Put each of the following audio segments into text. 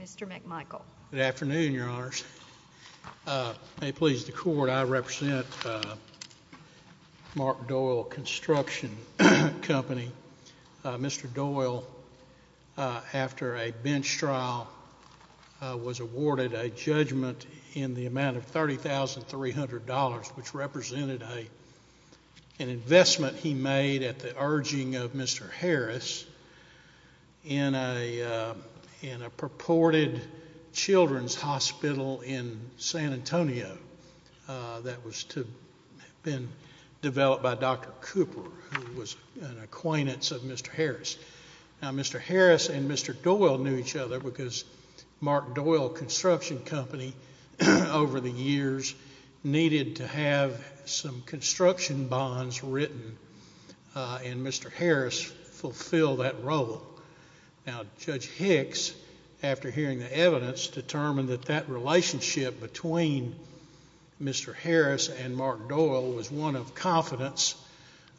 Mr. McMichael. Good afternoon, Your Honors. May it please the Court, I represent Mark Doyle Construction Company. Mr. Doyle, after a bench trial, was awarded a judgment in the amount of $30,300, which represented an investment he made at the urging of Mr. Harris in a purported children's hospital in San Antonio that had been developed by Dr. Cooper, who was an acquaintance of Mr. Harris. Now, Mr. Harris and Mr. Doyle knew each other because Mark Doyle Construction Company, over the years, needed to have some construction bonds written, and Mr. Harris fulfilled that role. Now, Judge Hicks, after hearing the evidence, determined that that relationship between Mr. Harris and Mark Doyle was one of confidence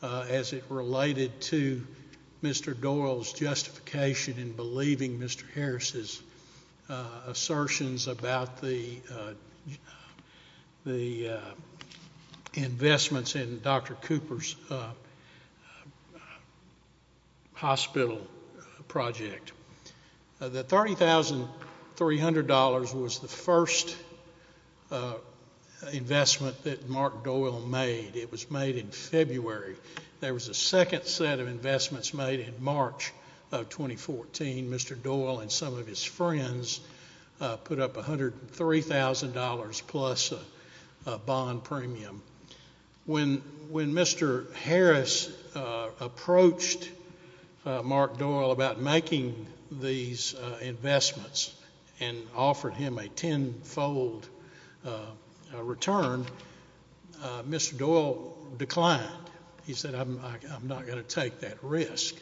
as it related to Mr. Doyle's justification in believing Mr. Harris' assertions about the investments in Dr. Cooper's hospital project. The $30,300 was the first investment that Mark Doyle made. It was made in February. There was a second set of investments made in March of 2014. Mr. Doyle and some of his friends put up $103,000 plus bond premium. When Mr. Harris approached Mark Doyle about making these investments and offered him a tenfold return, Mr. Doyle declined. He said, I'm not going to take that risk.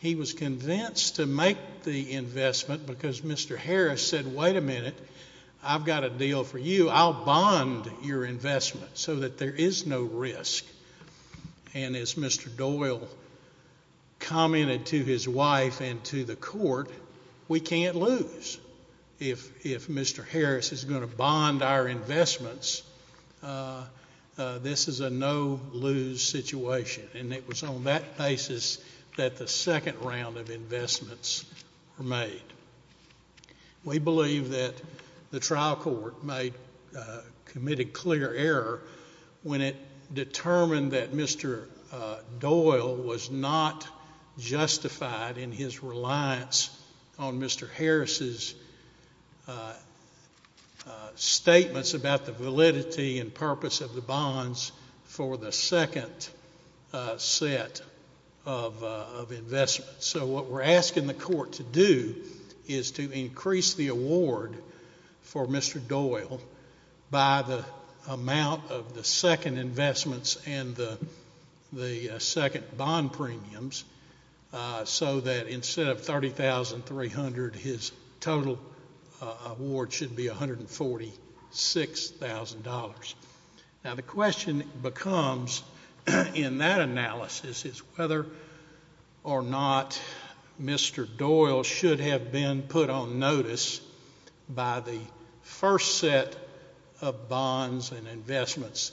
He was convinced to make the investment because Mr. Harris said, wait a minute, I've got a deal for you. I'll bond your investment so that there is no risk. And as Mr. Doyle commented to his wife and to the court, we can't lose. If Mr. Harris is going to bond our investments, this is a no-lose situation. And it was on that basis that the second round of investments were made. We believe that the trial court committed clear error when it determined that Mr. Doyle was not justified in his reliance on Mr. Harris' statements about the validity and purpose of the bonds for the second set of investments. So what we're asking the court to do is to increase the award for Mr. Doyle by the amount of the second investments and the second bond premiums so that instead of $30,300, his total award should be $146,000. Now the question becomes in that analysis is whether or not Mr. Doyle should have been put on notice by the first set of bonds and investments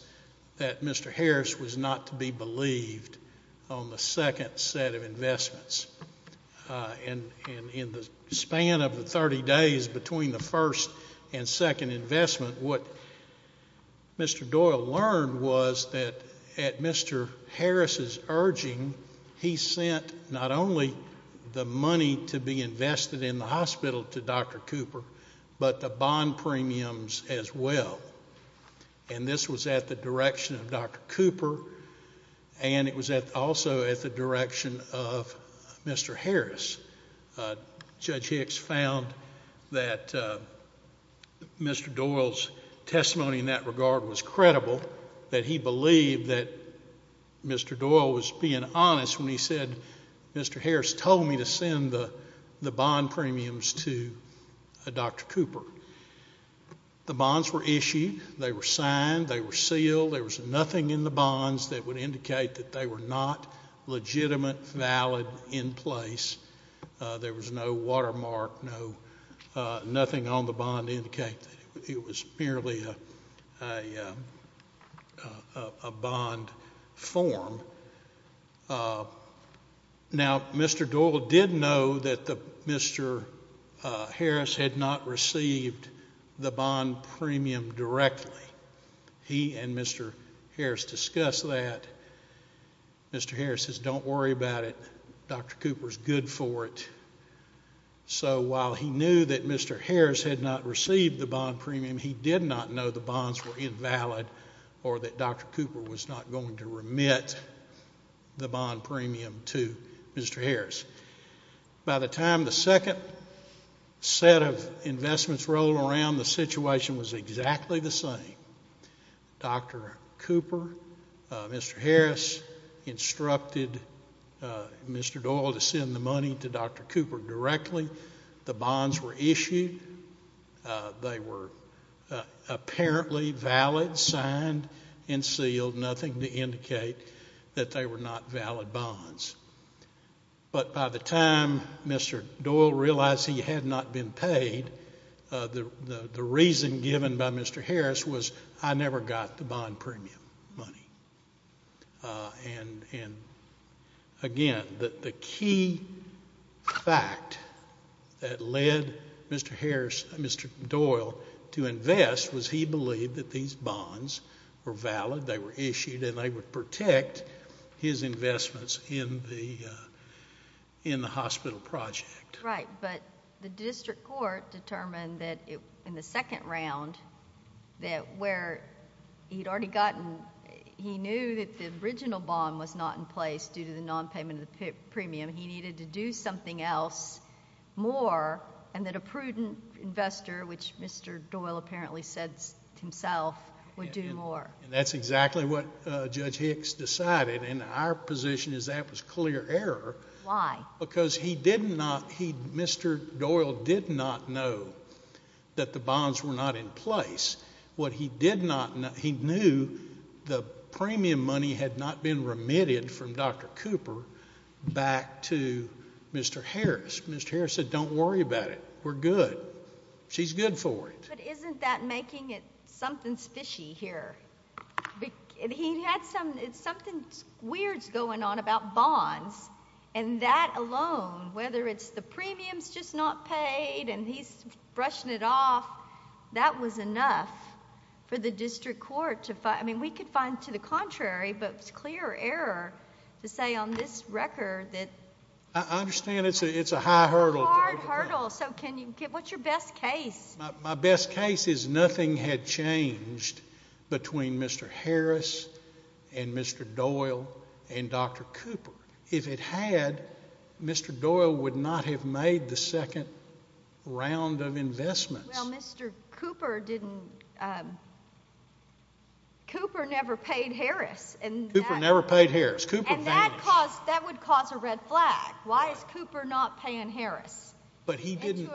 that Mr. Harris was not to be believed on the second set of investments. And in the span of the 30 days between the first and second investment, what Mr. Doyle learned was that at Mr. Harris' urging, he sent not only the money to be invested in the hospital to Dr. Cooper, but the bond premiums as well. And this was at the direction of Dr. Cooper and it was also at the direction of Mr. Harris. Judge Hicks found that Mr. Doyle's testimony in that regard was credible, that he believed that Mr. Doyle was being honest when he said Mr. Harris told me to send the bond premiums to Dr. Cooper. The bonds were issued. They were signed. They were sealed. There was nothing in the bonds that would indicate that they were not legitimate, valid in place. There was no watermark, nothing on the bond to indicate that it was merely a bond form. Now, Mr. Doyle did know that Mr. Harris had not received the bond premium directly. He and Mr. Harris discussed that. Mr. Harris says, don't worry about it. Dr. Cooper's good for it. So while he knew that Mr. Harris had not received the bond premium, he did not know the bonds were invalid or that Dr. Cooper was not going to remit the bond premium to Mr. Harris. By the time the second set of investments rolled around, the situation was exactly the same. Dr. Cooper, Mr. Harris instructed Mr. Doyle to send the money to Dr. Cooper directly. The bonds were issued. They were apparently valid, signed, and sealed, nothing to indicate that they were not valid bonds. But by the time Mr. Doyle realized he had not been paid, the reason given by Mr. Harris was, I never got the bond premium money. And, again, the key fact that led Mr. Doyle to invest was he believed that these bonds were valid, they were issued, and they would protect his investments in the hospital project. Right, but the district court determined that in the second round that where he'd already gotten, he knew that the original bond was not in place due to the nonpayment of the premium. He needed to do something else more and that a prudent investor, which Mr. Doyle apparently said himself, would do more. And that's exactly what Judge Hicks decided. And our position is that was clear error. Why? Because he did not, he, Mr. Doyle did not know that the bonds were not in place. What he did not know, he knew the premium money had not been remitted from Dr. Cooper back to Mr. Harris. Mr. Harris said, don't worry about it. We're good. She's good for it. But isn't that making it something fishy here? He had something weird going on about bonds and that alone, whether it's the premiums just not paid and he's brushing it off, that was enough for the district court to, I mean, we could find to the contrary, but it's clear error to say on this record that... I understand it's a high hurdle. It's a hard hurdle. So can you, what's your best case? My best case is nothing had changed between Mr. Harris and Mr. Doyle and Dr. Cooper. If it had, Mr. Doyle would not have made the second round of investments. Well, Mr. Cooper didn't, Cooper never paid Harris. Cooper never paid Harris. And that would cause a red flag. Why is Cooper not paying Harris? But he didn't...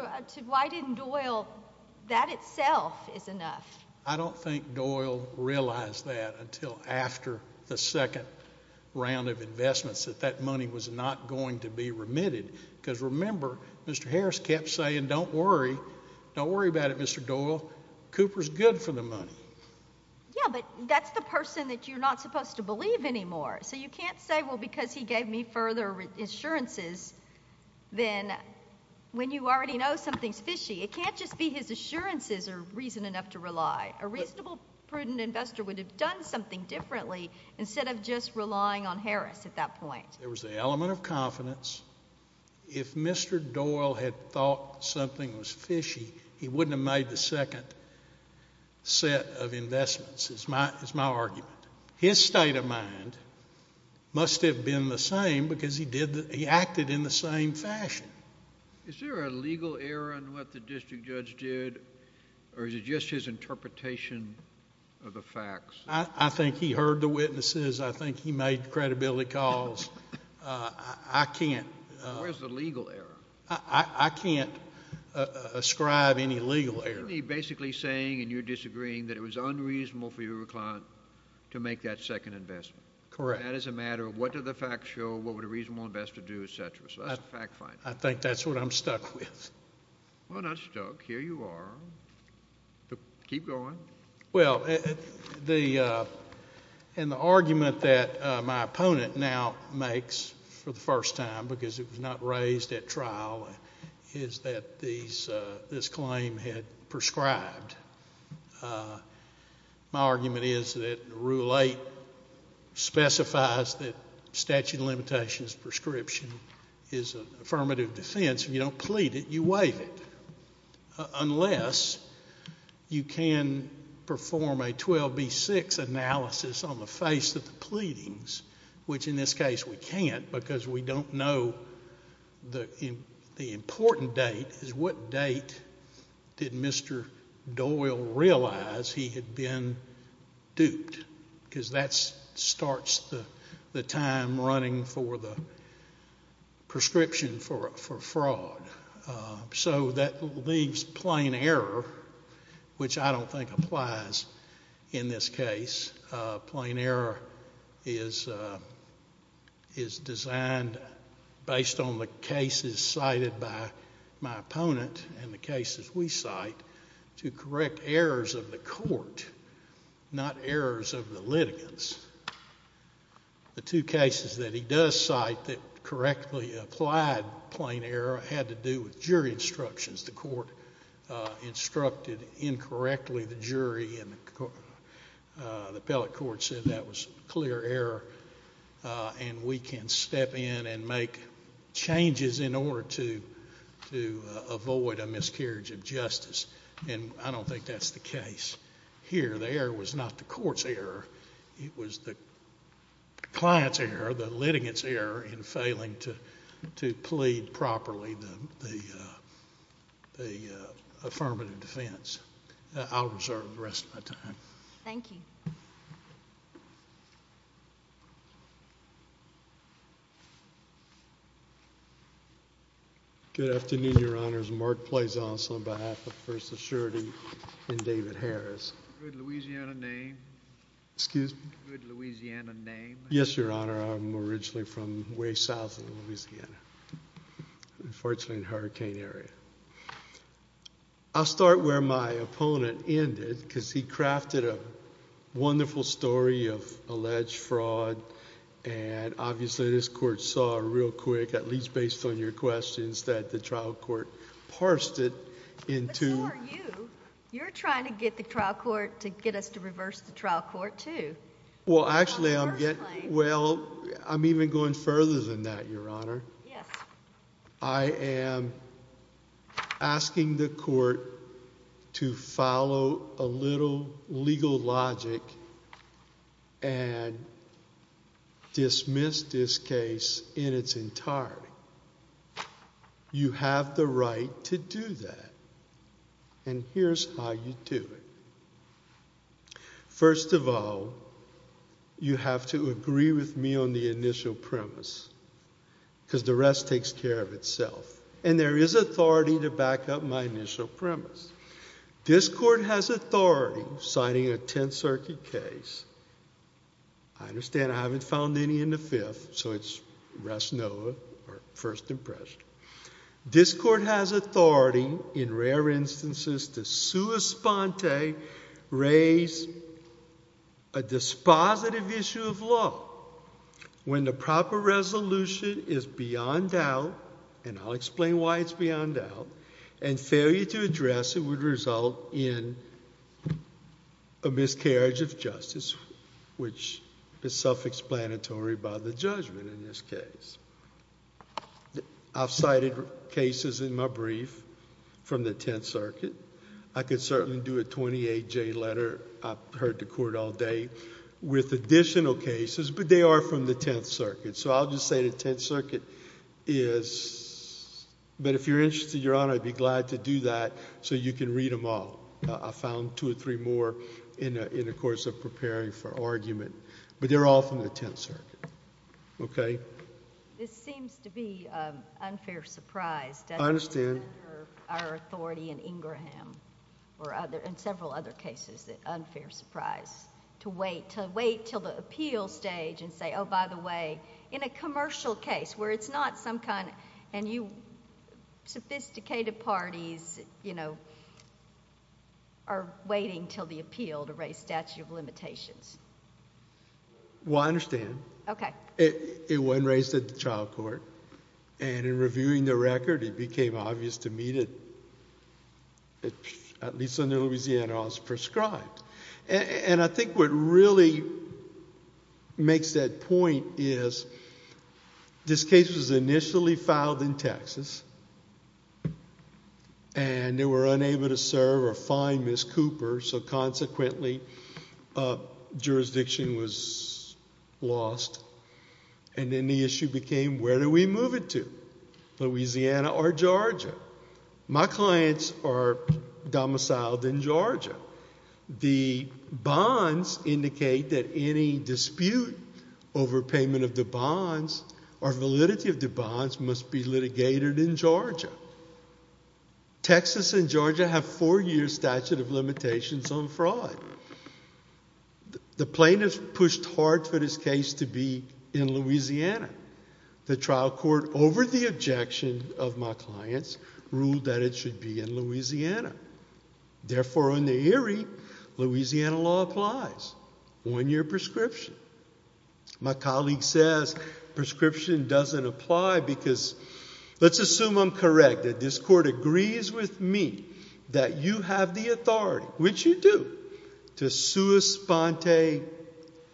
That itself is enough. I don't think Doyle realized that until after the second round of investments, that that money was not going to be remitted. Because remember, Mr. Harris kept saying, don't worry, don't worry about it, Mr. Doyle. Cooper's good for the money. Yeah, but that's the person that you're not supposed to believe anymore. So you can't say, well, because he gave me further insurances, then when you already know something's fishy, it can't just be his assurances are reason enough to rely. A reasonable, prudent investor would have done something differently instead of just relying on Harris at that point. There was the element of confidence. If Mr. Doyle had thought something was fishy, he wouldn't have made the second set of investments is my argument. His state of mind must have been the same because he acted in the same fashion. Is there a legal error in what the district judge did, or is it just his interpretation of the facts? I think he heard the witnesses. I think he made credibility calls. I can't. Where's the legal error? I can't ascribe any legal error. Isn't he basically saying, and you're disagreeing, that it was unreasonable for you to make that second investment? Correct. That is a matter of what did the facts show, what would a reasonable investor do, et cetera. So that's a fact finder. I think that's what I'm stuck with. Well, not stuck. Here you are. Keep going. Well, the argument that my opponent now makes for the first time, because it was not raised at trial, is that this claim had prescribed. My argument is that Rule 8 specifies that statute of limitations prescription is an affirmative defense. If you don't plead it, you waive it, unless you can perform a 12B6 analysis on the face of the pleadings, which in this case we can't because we don't know the important date, is what date did Mr. Doyle realize he had been duped? Because that starts the time running for the prescription for fraud. So that leaves plain error, which I don't think applies in this case. Plain error is designed, based on the cases cited by my opponent and the cases we cite, to correct errors of the court, not errors of the litigants. The two cases that he does cite that correctly applied plain error had to do with jury instructions. The court instructed incorrectly the jury and the appellate court said that was clear error and we can step in and make changes in order to avoid a miscarriage of justice. And I don't think that's the case here. The error was not the court's error. It was the client's error, the litigant's error, in failing to plead properly the affirmative defense. I'll reserve the rest of my time. Thank you. Good afternoon, Your Honors. Mark Pleasance on behalf of First Assurity and David Harris. Good Louisiana name. Excuse me? Good Louisiana name. Yes, Your Honor. I'm originally from way south of Louisiana, unfortunately in a hurricane area. I'll start where my opponent ended because he crafted a wonderful story of alleged fraud and obviously this court saw real quick, at least based on your questions, that the trial court parsed it into Sure, you. You're trying to get the trial court to get us to reverse the trial court too. Well, actually I'm getting, well, I'm even going further than that, Your Honor. Yes. I am asking the court to follow a little legal logic and dismiss this case in its entirety. You have the right to do that and here's how you do it. First of all, you have to agree with me on the initial premise because the rest takes care of itself. And there is authority to back up my initial premise. This court has authority signing a Tenth Circuit case. I understand I haven't found any in the Fifth, so it's rest no or first impression. This court has authority in rare instances to sua sponte raise a dispositive issue of law when the proper resolution is beyond doubt, and I'll explain why it's beyond doubt, and failure to address it would result in a miscarriage of justice, which is self-explanatory by the judgment in this case. I've cited cases in my brief from the Tenth Circuit. I could certainly do a 28-J letter. I've heard the court all day with additional cases, but they are from the Tenth Circuit. So I'll just say the Tenth Circuit is, but if you're interested, Your Honor, I'd be glad to do that so you can read them all. I found two or three more in the course of preparing for argument, but they're all from the Tenth Circuit. Okay? This seems to be an unfair surprise. I understand. Our authority in Ingraham and several other cases is an unfair surprise to wait until the appeal stage and say, oh, by the way, in a commercial case where it's not some kind of... and you sophisticated parties are waiting until the appeal to raise statute of limitations. Well, I understand. Okay. It wasn't raised at the trial court, and in reviewing the record, it became obvious to me that, at least under Louisiana, I was prescribed. And I think what really makes that point is this case was initially filed in Texas, and they were unable to serve or find Ms. Cooper, so consequently jurisdiction was lost. And then the issue became, where do we move it to? Louisiana or Georgia? My clients are domiciled in Georgia. The bonds indicate that any dispute over payment of the bonds or validity of the bonds must be litigated in Georgia. Texas and Georgia have four-year statute of limitations on fraud. The plaintiffs pushed hard for this case to be in Louisiana. The trial court, over the objection of my clients, ruled that it should be in Louisiana. Therefore, in the eerie, Louisiana law applies. One-year prescription. My colleague says prescription doesn't apply because, let's assume I'm correct, that this court agrees with me that you have the authority, which you do, to sua sponte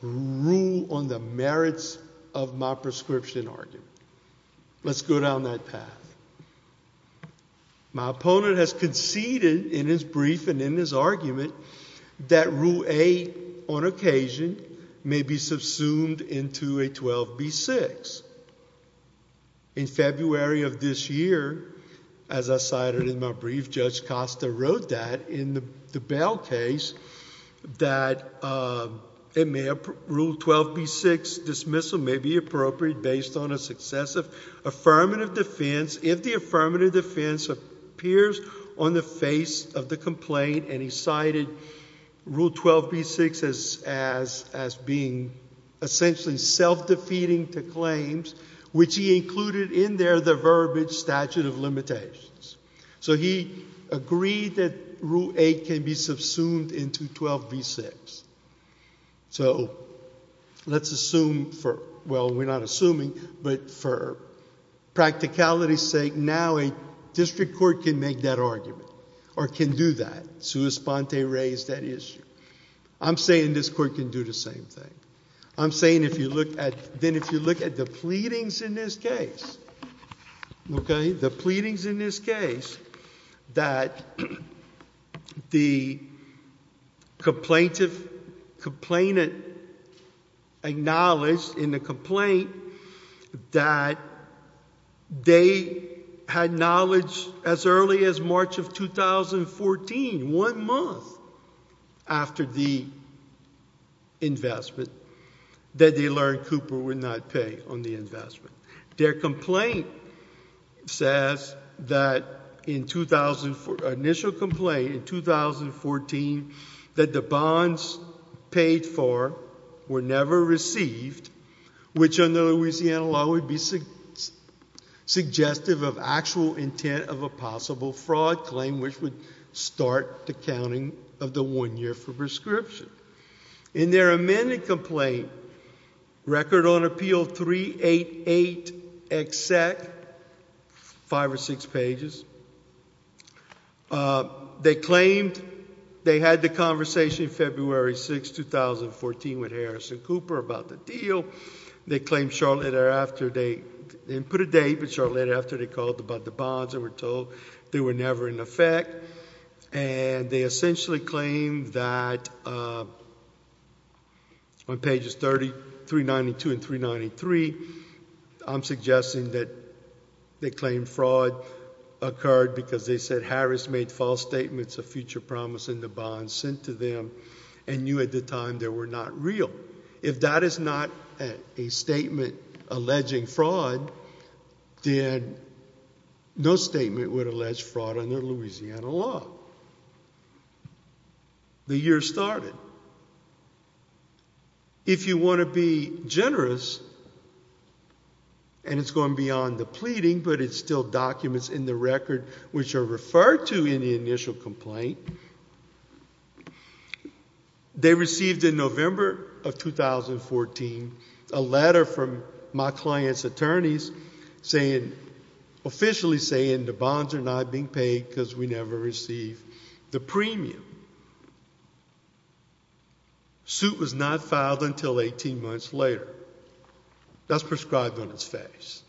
rule on the merits of my prescription argument. Let's go down that path. My opponent has conceded in his brief and in his argument that Rule 8, on occasion, may be subsumed into a 12b-6. In February of this year, as I cited in my brief, Judge Costa wrote that in the bail case, that Rule 12b-6 dismissal may be appropriate based on a successive affirmative defense if the affirmative defense appears on the face of the complaint, and he cited Rule 12b-6 as being essentially self-defeating to claims, which he included in there the verbiage statute of limitations. So he agreed that Rule 8 can be subsumed into 12b-6. So let's assume for, well, we're not assuming, but for practicality's sake, now a district court can make that argument or can do that, sua sponte raise that issue. I'm saying this court can do the same thing. I'm saying if you look at, then if you look at the pleadings in this case, okay, the pleadings in this case that the complainant acknowledged in the complaint that they had knowledge as early as March of 2014, one month after the investment, that they learned Cooper would not pay on the investment. Their complaint says that in 2004, initial complaint in 2014, that the bonds paid for were never received, which under the Louisiana law would be suggestive of actual intent of a possible fraud claim, which would start the counting of the one year for prescription. In their amended complaint, Record on Appeal 388XX, five or six pages, they claimed they had the conversation February 6, 2014, with Harrison Cooper about the deal. They put a date, but shortly thereafter they called about the bonds and were told they were never in effect. They essentially claimed that on pages 392 and 393, I'm suggesting that they claimed fraud occurred because they said Harris made false statements of future promise in the bonds sent to them and knew at the time they were not real. If that is not a statement alleging fraud, then no statement would allege fraud under Louisiana law. The year started. If you want to be generous, and it's going beyond the pleading, but it's still documents in the record which are referred to in the initial complaint, they received in November of 2014 a letter from my client's attorneys saying, officially saying the bonds are not being paid because we never received the premium. The suit was not filed until 18 months later. That's prescribed on its face.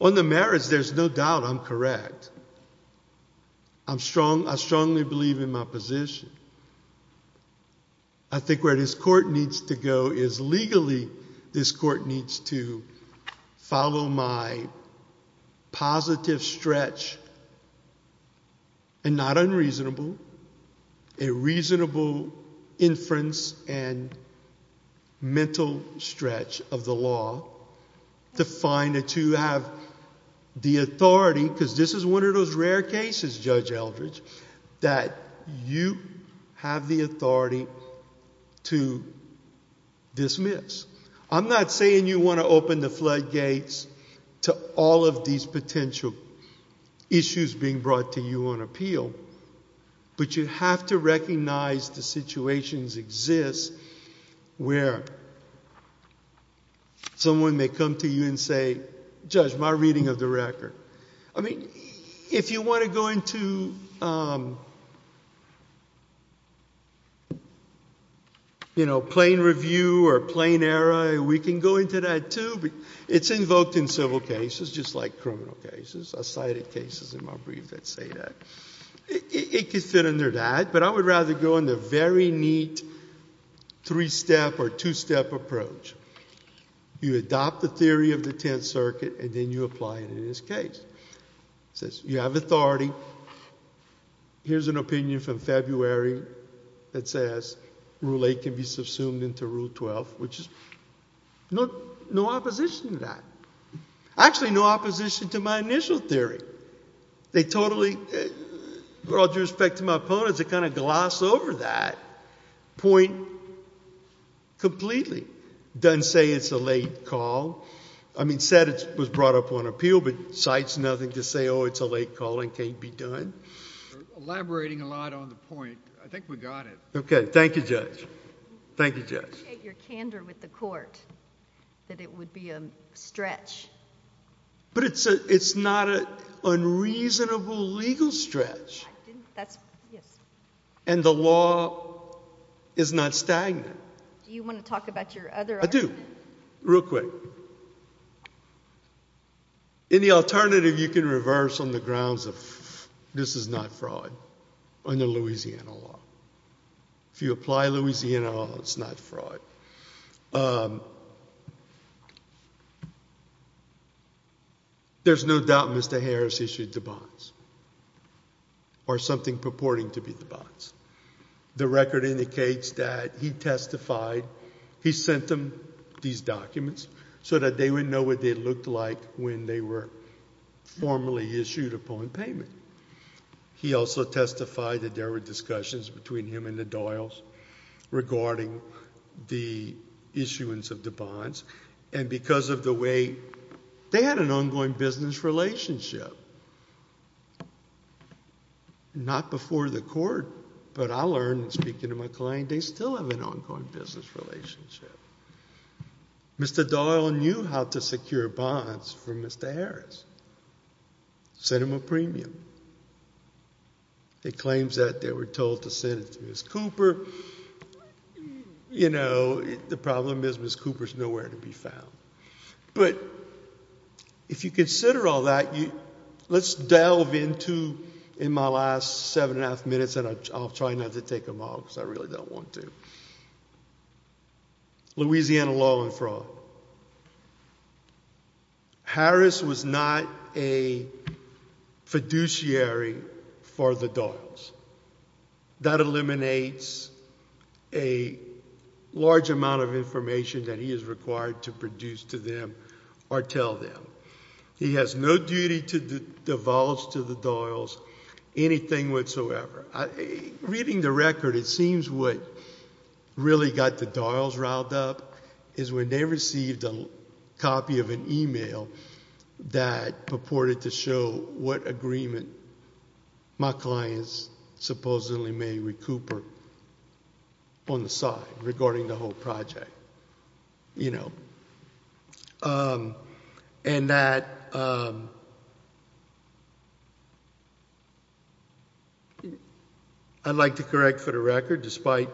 On the merits, there's no doubt I'm correct. I strongly believe in my position. I think where this court needs to go is legally this court needs to follow my positive stretch, and not unreasonable, a reasonable inference and mental stretch of the law to find that you have the authority, because this is one of those rare cases, Judge Eldridge, that you have the authority to dismiss. I'm not saying you want to open the floodgates to all of these potential issues being brought to you on appeal, but you have to recognize the situations exist where someone may come to you and say, Judge, my reading of the record. I mean, if you want to go into, you know, plain review or plain error, we can go into that too. It's invoked in civil cases, just like criminal cases. I cited cases in my brief that say that. It could fit under that, but I would rather go in the very neat three-step or two-step approach. You adopt the theory of the Tenth Circuit, and then you apply it in this case. It says you have authority. Here's an opinion from February that says Rule 8 can be subsumed into Rule 12, which is no opposition to that. Actually, no opposition to my initial theory. They totally, with all due respect to my opponents, they kind of gloss over that point completely. It doesn't say it's a late call. I mean, it said it was brought up on appeal, but it cites nothing to say, oh, it's a late call and can't be done. We're elaborating a lot on the point. I think we got it. Okay. Thank you, Judge. Thank you, Judge. I appreciate your candor with the court that it would be a stretch. But it's not an unreasonable legal stretch. I didn't – that's – yes. And the law is not stagnant. Do you want to talk about your other argument? I do. Real quick. Any alternative you can reverse on the grounds of this is not fraud under Louisiana law. If you apply Louisiana law, it's not fraud. There's no doubt Mr. Harris issued the bonds or something purporting to be the bonds. The record indicates that he testified. He sent them these documents so that they would know what they looked like when they were formally issued upon payment. He also testified that there were discussions between him and the Doyles regarding the issuance of the bonds. And because of the way – they had an ongoing business relationship. Not before the court, but I learned speaking to my client, they still have an ongoing business relationship. Mr. Doyle knew how to secure bonds from Mr. Harris. Sent him a premium. He claims that they were told to send it to Ms. Cooper. You know, the problem is Ms. Cooper is nowhere to be found. But if you consider all that, let's delve into, in my last seven and a half minutes, and I'll try not to take them all because I really don't want to. Louisiana law and fraud. Harris was not a fiduciary for the Doyles. That eliminates a large amount of information that he is required to produce to them or tell them. He has no duty to divulge to the Doyles anything whatsoever. Reading the record, it seems what really got the Doyles riled up is when they received a copy of an e-mail that purported to show what agreement my clients supposedly made with Cooper on the side regarding the whole project. You know. And that I'd like to correct for the record, despite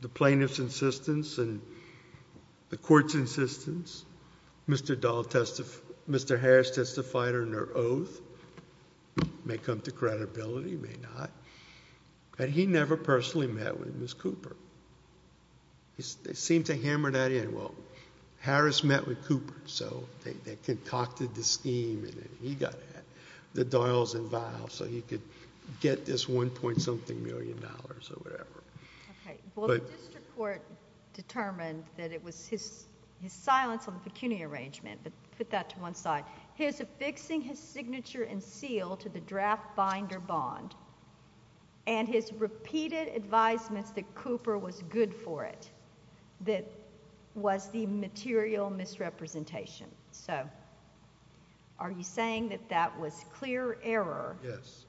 the plaintiff's insistence and the court's insistence, Mr. Harris testified under oath, may come to credibility, may not, that he never personally met with Ms. Cooper. They seem to hammer that in. Well, Harris met with Cooper, so they concocted the scheme, and he got the Doyles involved, so he could get this one point something million dollars or whatever. Okay. Well, the district court determined that it was his silence on the pecuniary arrangement, but put that to one side. His affixing his signature and seal to the draft binder bond and his repeated advisements that Cooper was good for it, that was the material misrepresentation. So are you saying that that was clear error? Yes.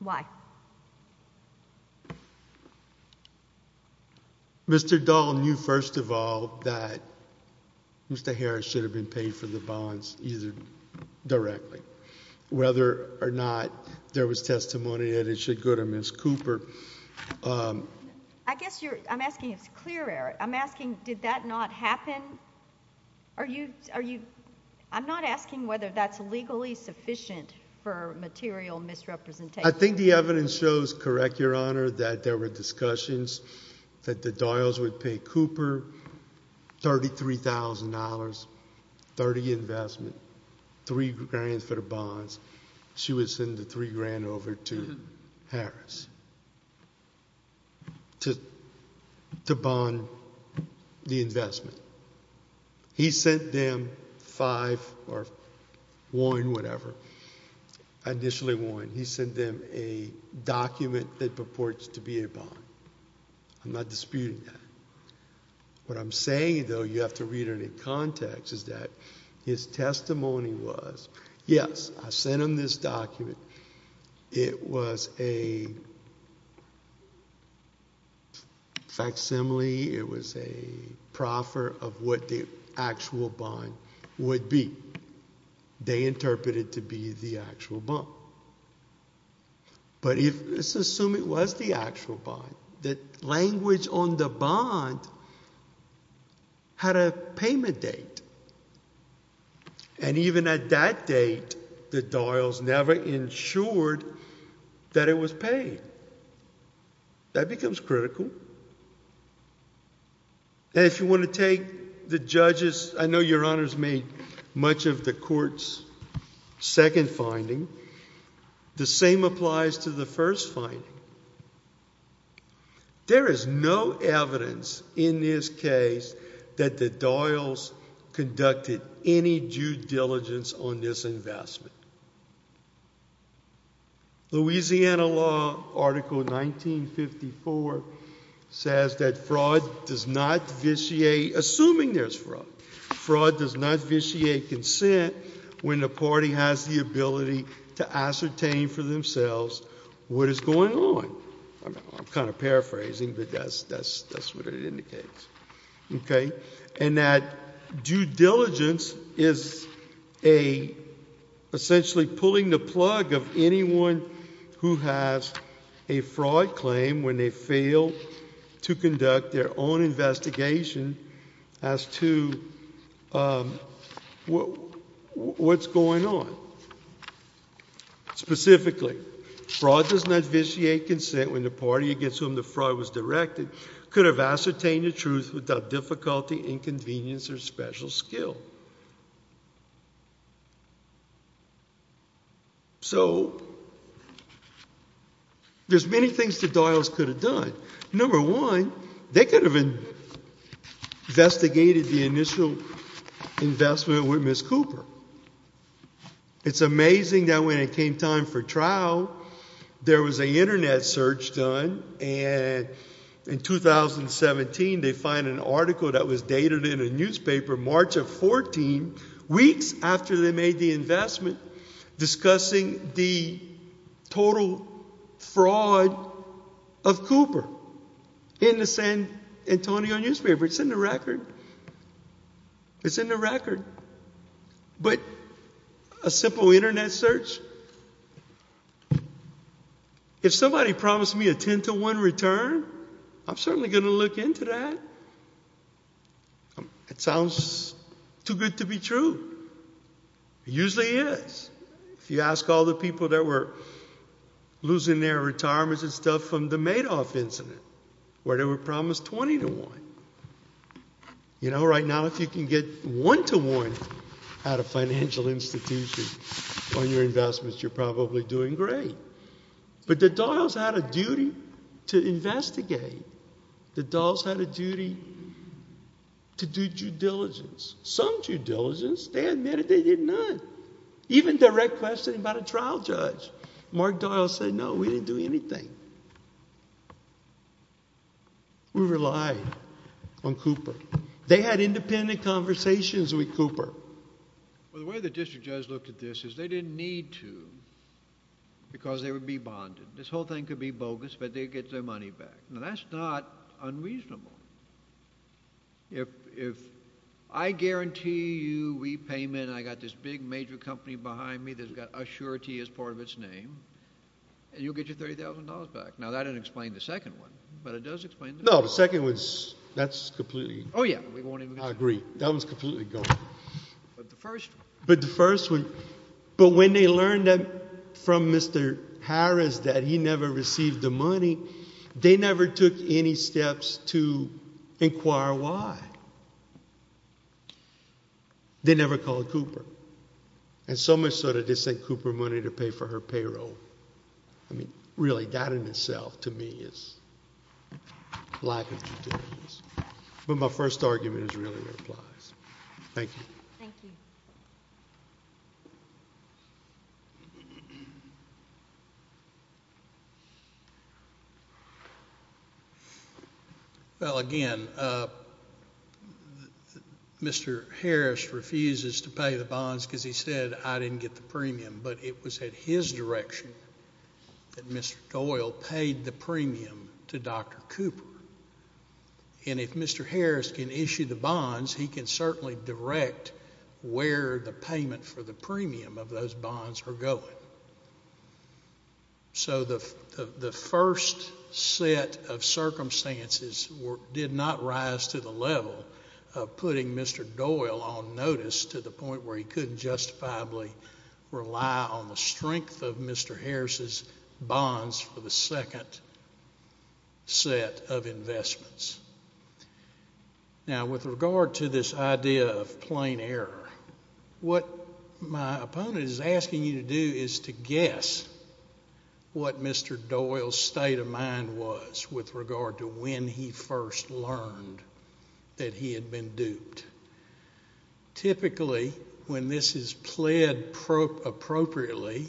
Why? Mr. Doyle knew, first of all, that Mr. Harris should have been paid for the bonds either directly, whether or not there was testimony that it should go to Ms. Cooper. I guess I'm asking if it's clear error. I'm asking did that not happen? I'm not asking whether that's legally sufficient for material misrepresentation. I think the evidence shows, correct, Your Honor, that there were discussions that the Doyles would pay Cooper $33,000, 30 investment, 3 grand for the bonds. She would send the 3 grand over to Harris to bond the investment. He sent them 5 or 1, whatever, initially 1. He sent them a document that purports to be a bond. I'm not disputing that. What I'm saying, though, you have to read it in context, is that his testimony was, yes, I sent him this document. It was a facsimile. It was a proffer of what the actual bond would be. They interpreted it to be the actual bond. But let's assume it was the actual bond. The language on the bond had a payment date. And even at that date, the Doyles never ensured that it was paid. That becomes critical. And if you want to take the judge's, I know Your Honor's made much of the court's second finding. The same applies to the first finding. There is no evidence in this case that the Doyles conducted any due diligence on this investment. Louisiana law article 1954 says that fraud does not vitiate, assuming there's fraud, fraud does not vitiate consent when the party has the ability to ascertain for themselves what is going on. I'm kind of paraphrasing, but that's what it indicates. Okay? And that due diligence is essentially pulling the plug of anyone who has a fraud claim when they fail to conduct their own investigation as to what's going on. Specifically, fraud does not vitiate consent when the party against whom the fraud was directed could have ascertained the truth without difficulty, inconvenience, or special skill. So there's many things the Doyles could have done. Number one, they could have investigated the initial investment with Ms. Cooper. It's amazing that when it came time for trial, there was an Internet search done and in 2017 they find an article that was dated in a newspaper March of 14, weeks after they made the investment, discussing the total fraud of Cooper in the San Antonio newspaper. It's in the record. It's in the record. But a simple Internet search? If somebody promised me a 10-to-1 return, I'm certainly going to look into that. It sounds too good to be true. It usually is. If you ask all the people that were losing their retirements and stuff from the Madoff incident, where they were promised 20-to-1. You know, right now if you can get one-to-one out of financial institutions on your investments, you're probably doing great. But the Doyles had a duty to investigate. The Doyles had a duty to do due diligence. Some due diligence. They admitted they did none. Even direct questioning about a trial judge. Mark Doyle said, no, we didn't do anything. We relied on Cooper. They had independent conversations with Cooper. Well, the way the district judge looked at this is they didn't need to because they would be bonded. This whole thing could be bogus, but they'd get their money back. Now, that's not unreasonable. If I guarantee you repayment, I've got this big major company behind me that's got Assurity as part of its name, and you'll get your $30,000 back. Now, that doesn't explain the second one, but it does explain the first one. No, the second one, that's completely. Oh, yeah. I agree. That one's completely gone. But the first one. But the first one. But when they learned from Mr. Harris that he never received the money, they never took any steps to inquire why. They never called Cooper. And so much so that they sent Cooper money to pay for her payroll. I mean, really, that in itself, to me, is lack of due diligence. But my first argument is really that it applies. Thank you. Thank you. Well, again, Mr. Harris refuses to pay the bonds because he said, I didn't get the premium. But it was at his direction that Mr. Doyle paid the premium to Dr. Cooper. And if Mr. Harris can issue the bonds, he can certainly direct where the payment for the premium of those bonds are going. So the first set of circumstances did not rise to the level of putting Mr. Doyle on notice to the point where he couldn't justifiably rely on the strength of Mr. Harris's bonds for the second set of investments. Now, with regard to this idea of plain error, what my opponent is asking you to do is to guess what Mr. Doyle's state of mind was with regard to when he first learned that he had been duped. Typically, when this is pled appropriately,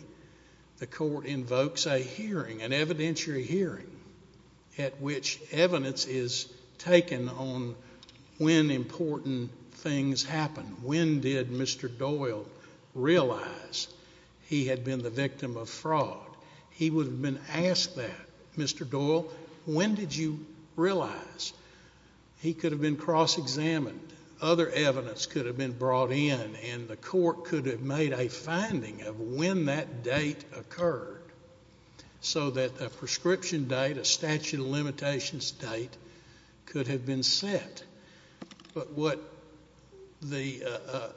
the court invokes a hearing, an evidentiary hearing, at which evidence is taken on when important things happen. When did Mr. Doyle realize he had been the victim of fraud? He would have been asked that. Mr. Doyle, when did you realize? He could have been cross-examined. Other evidence could have been brought in, and the court could have made a finding of when that date occurred so that a prescription date, a statute of limitations date, could have been set. But what the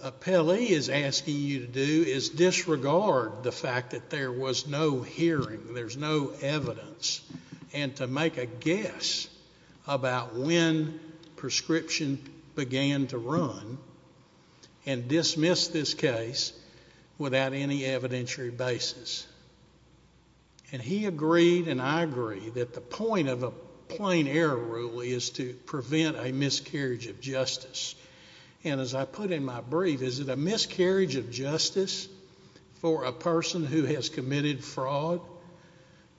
appellee is asking you to do is disregard the fact that there was no hearing, there's no evidence, and to make a guess about when prescription began to run and dismiss this case without any evidentiary basis. And he agreed and I agree that the point of a plain error rule is to prevent a miscarriage of justice. And as I put in my brief, is it a miscarriage of justice for a person who has committed fraud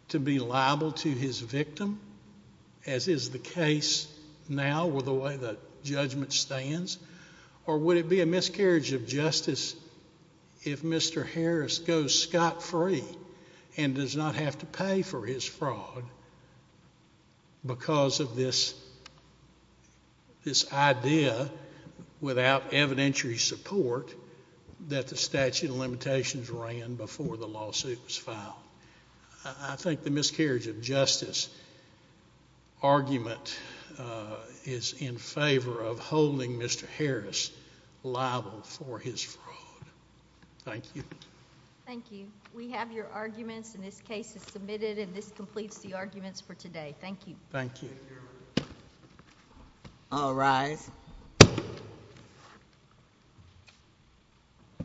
to be liable to his victim, as is the case now with the way the judgment stands, or would it be a miscarriage of justice if Mr. Harris goes scot-free and does not have to pay for his fraud because of this idea without evidentiary support that the statute of limitations ran before the lawsuit was filed? I think the miscarriage of justice argument is in favor of holding Mr. Harris liable for his fraud. Thank you. Thank you. We have your arguments and this case is submitted and this completes the arguments for today. Thank you. Thank you. I'll rise.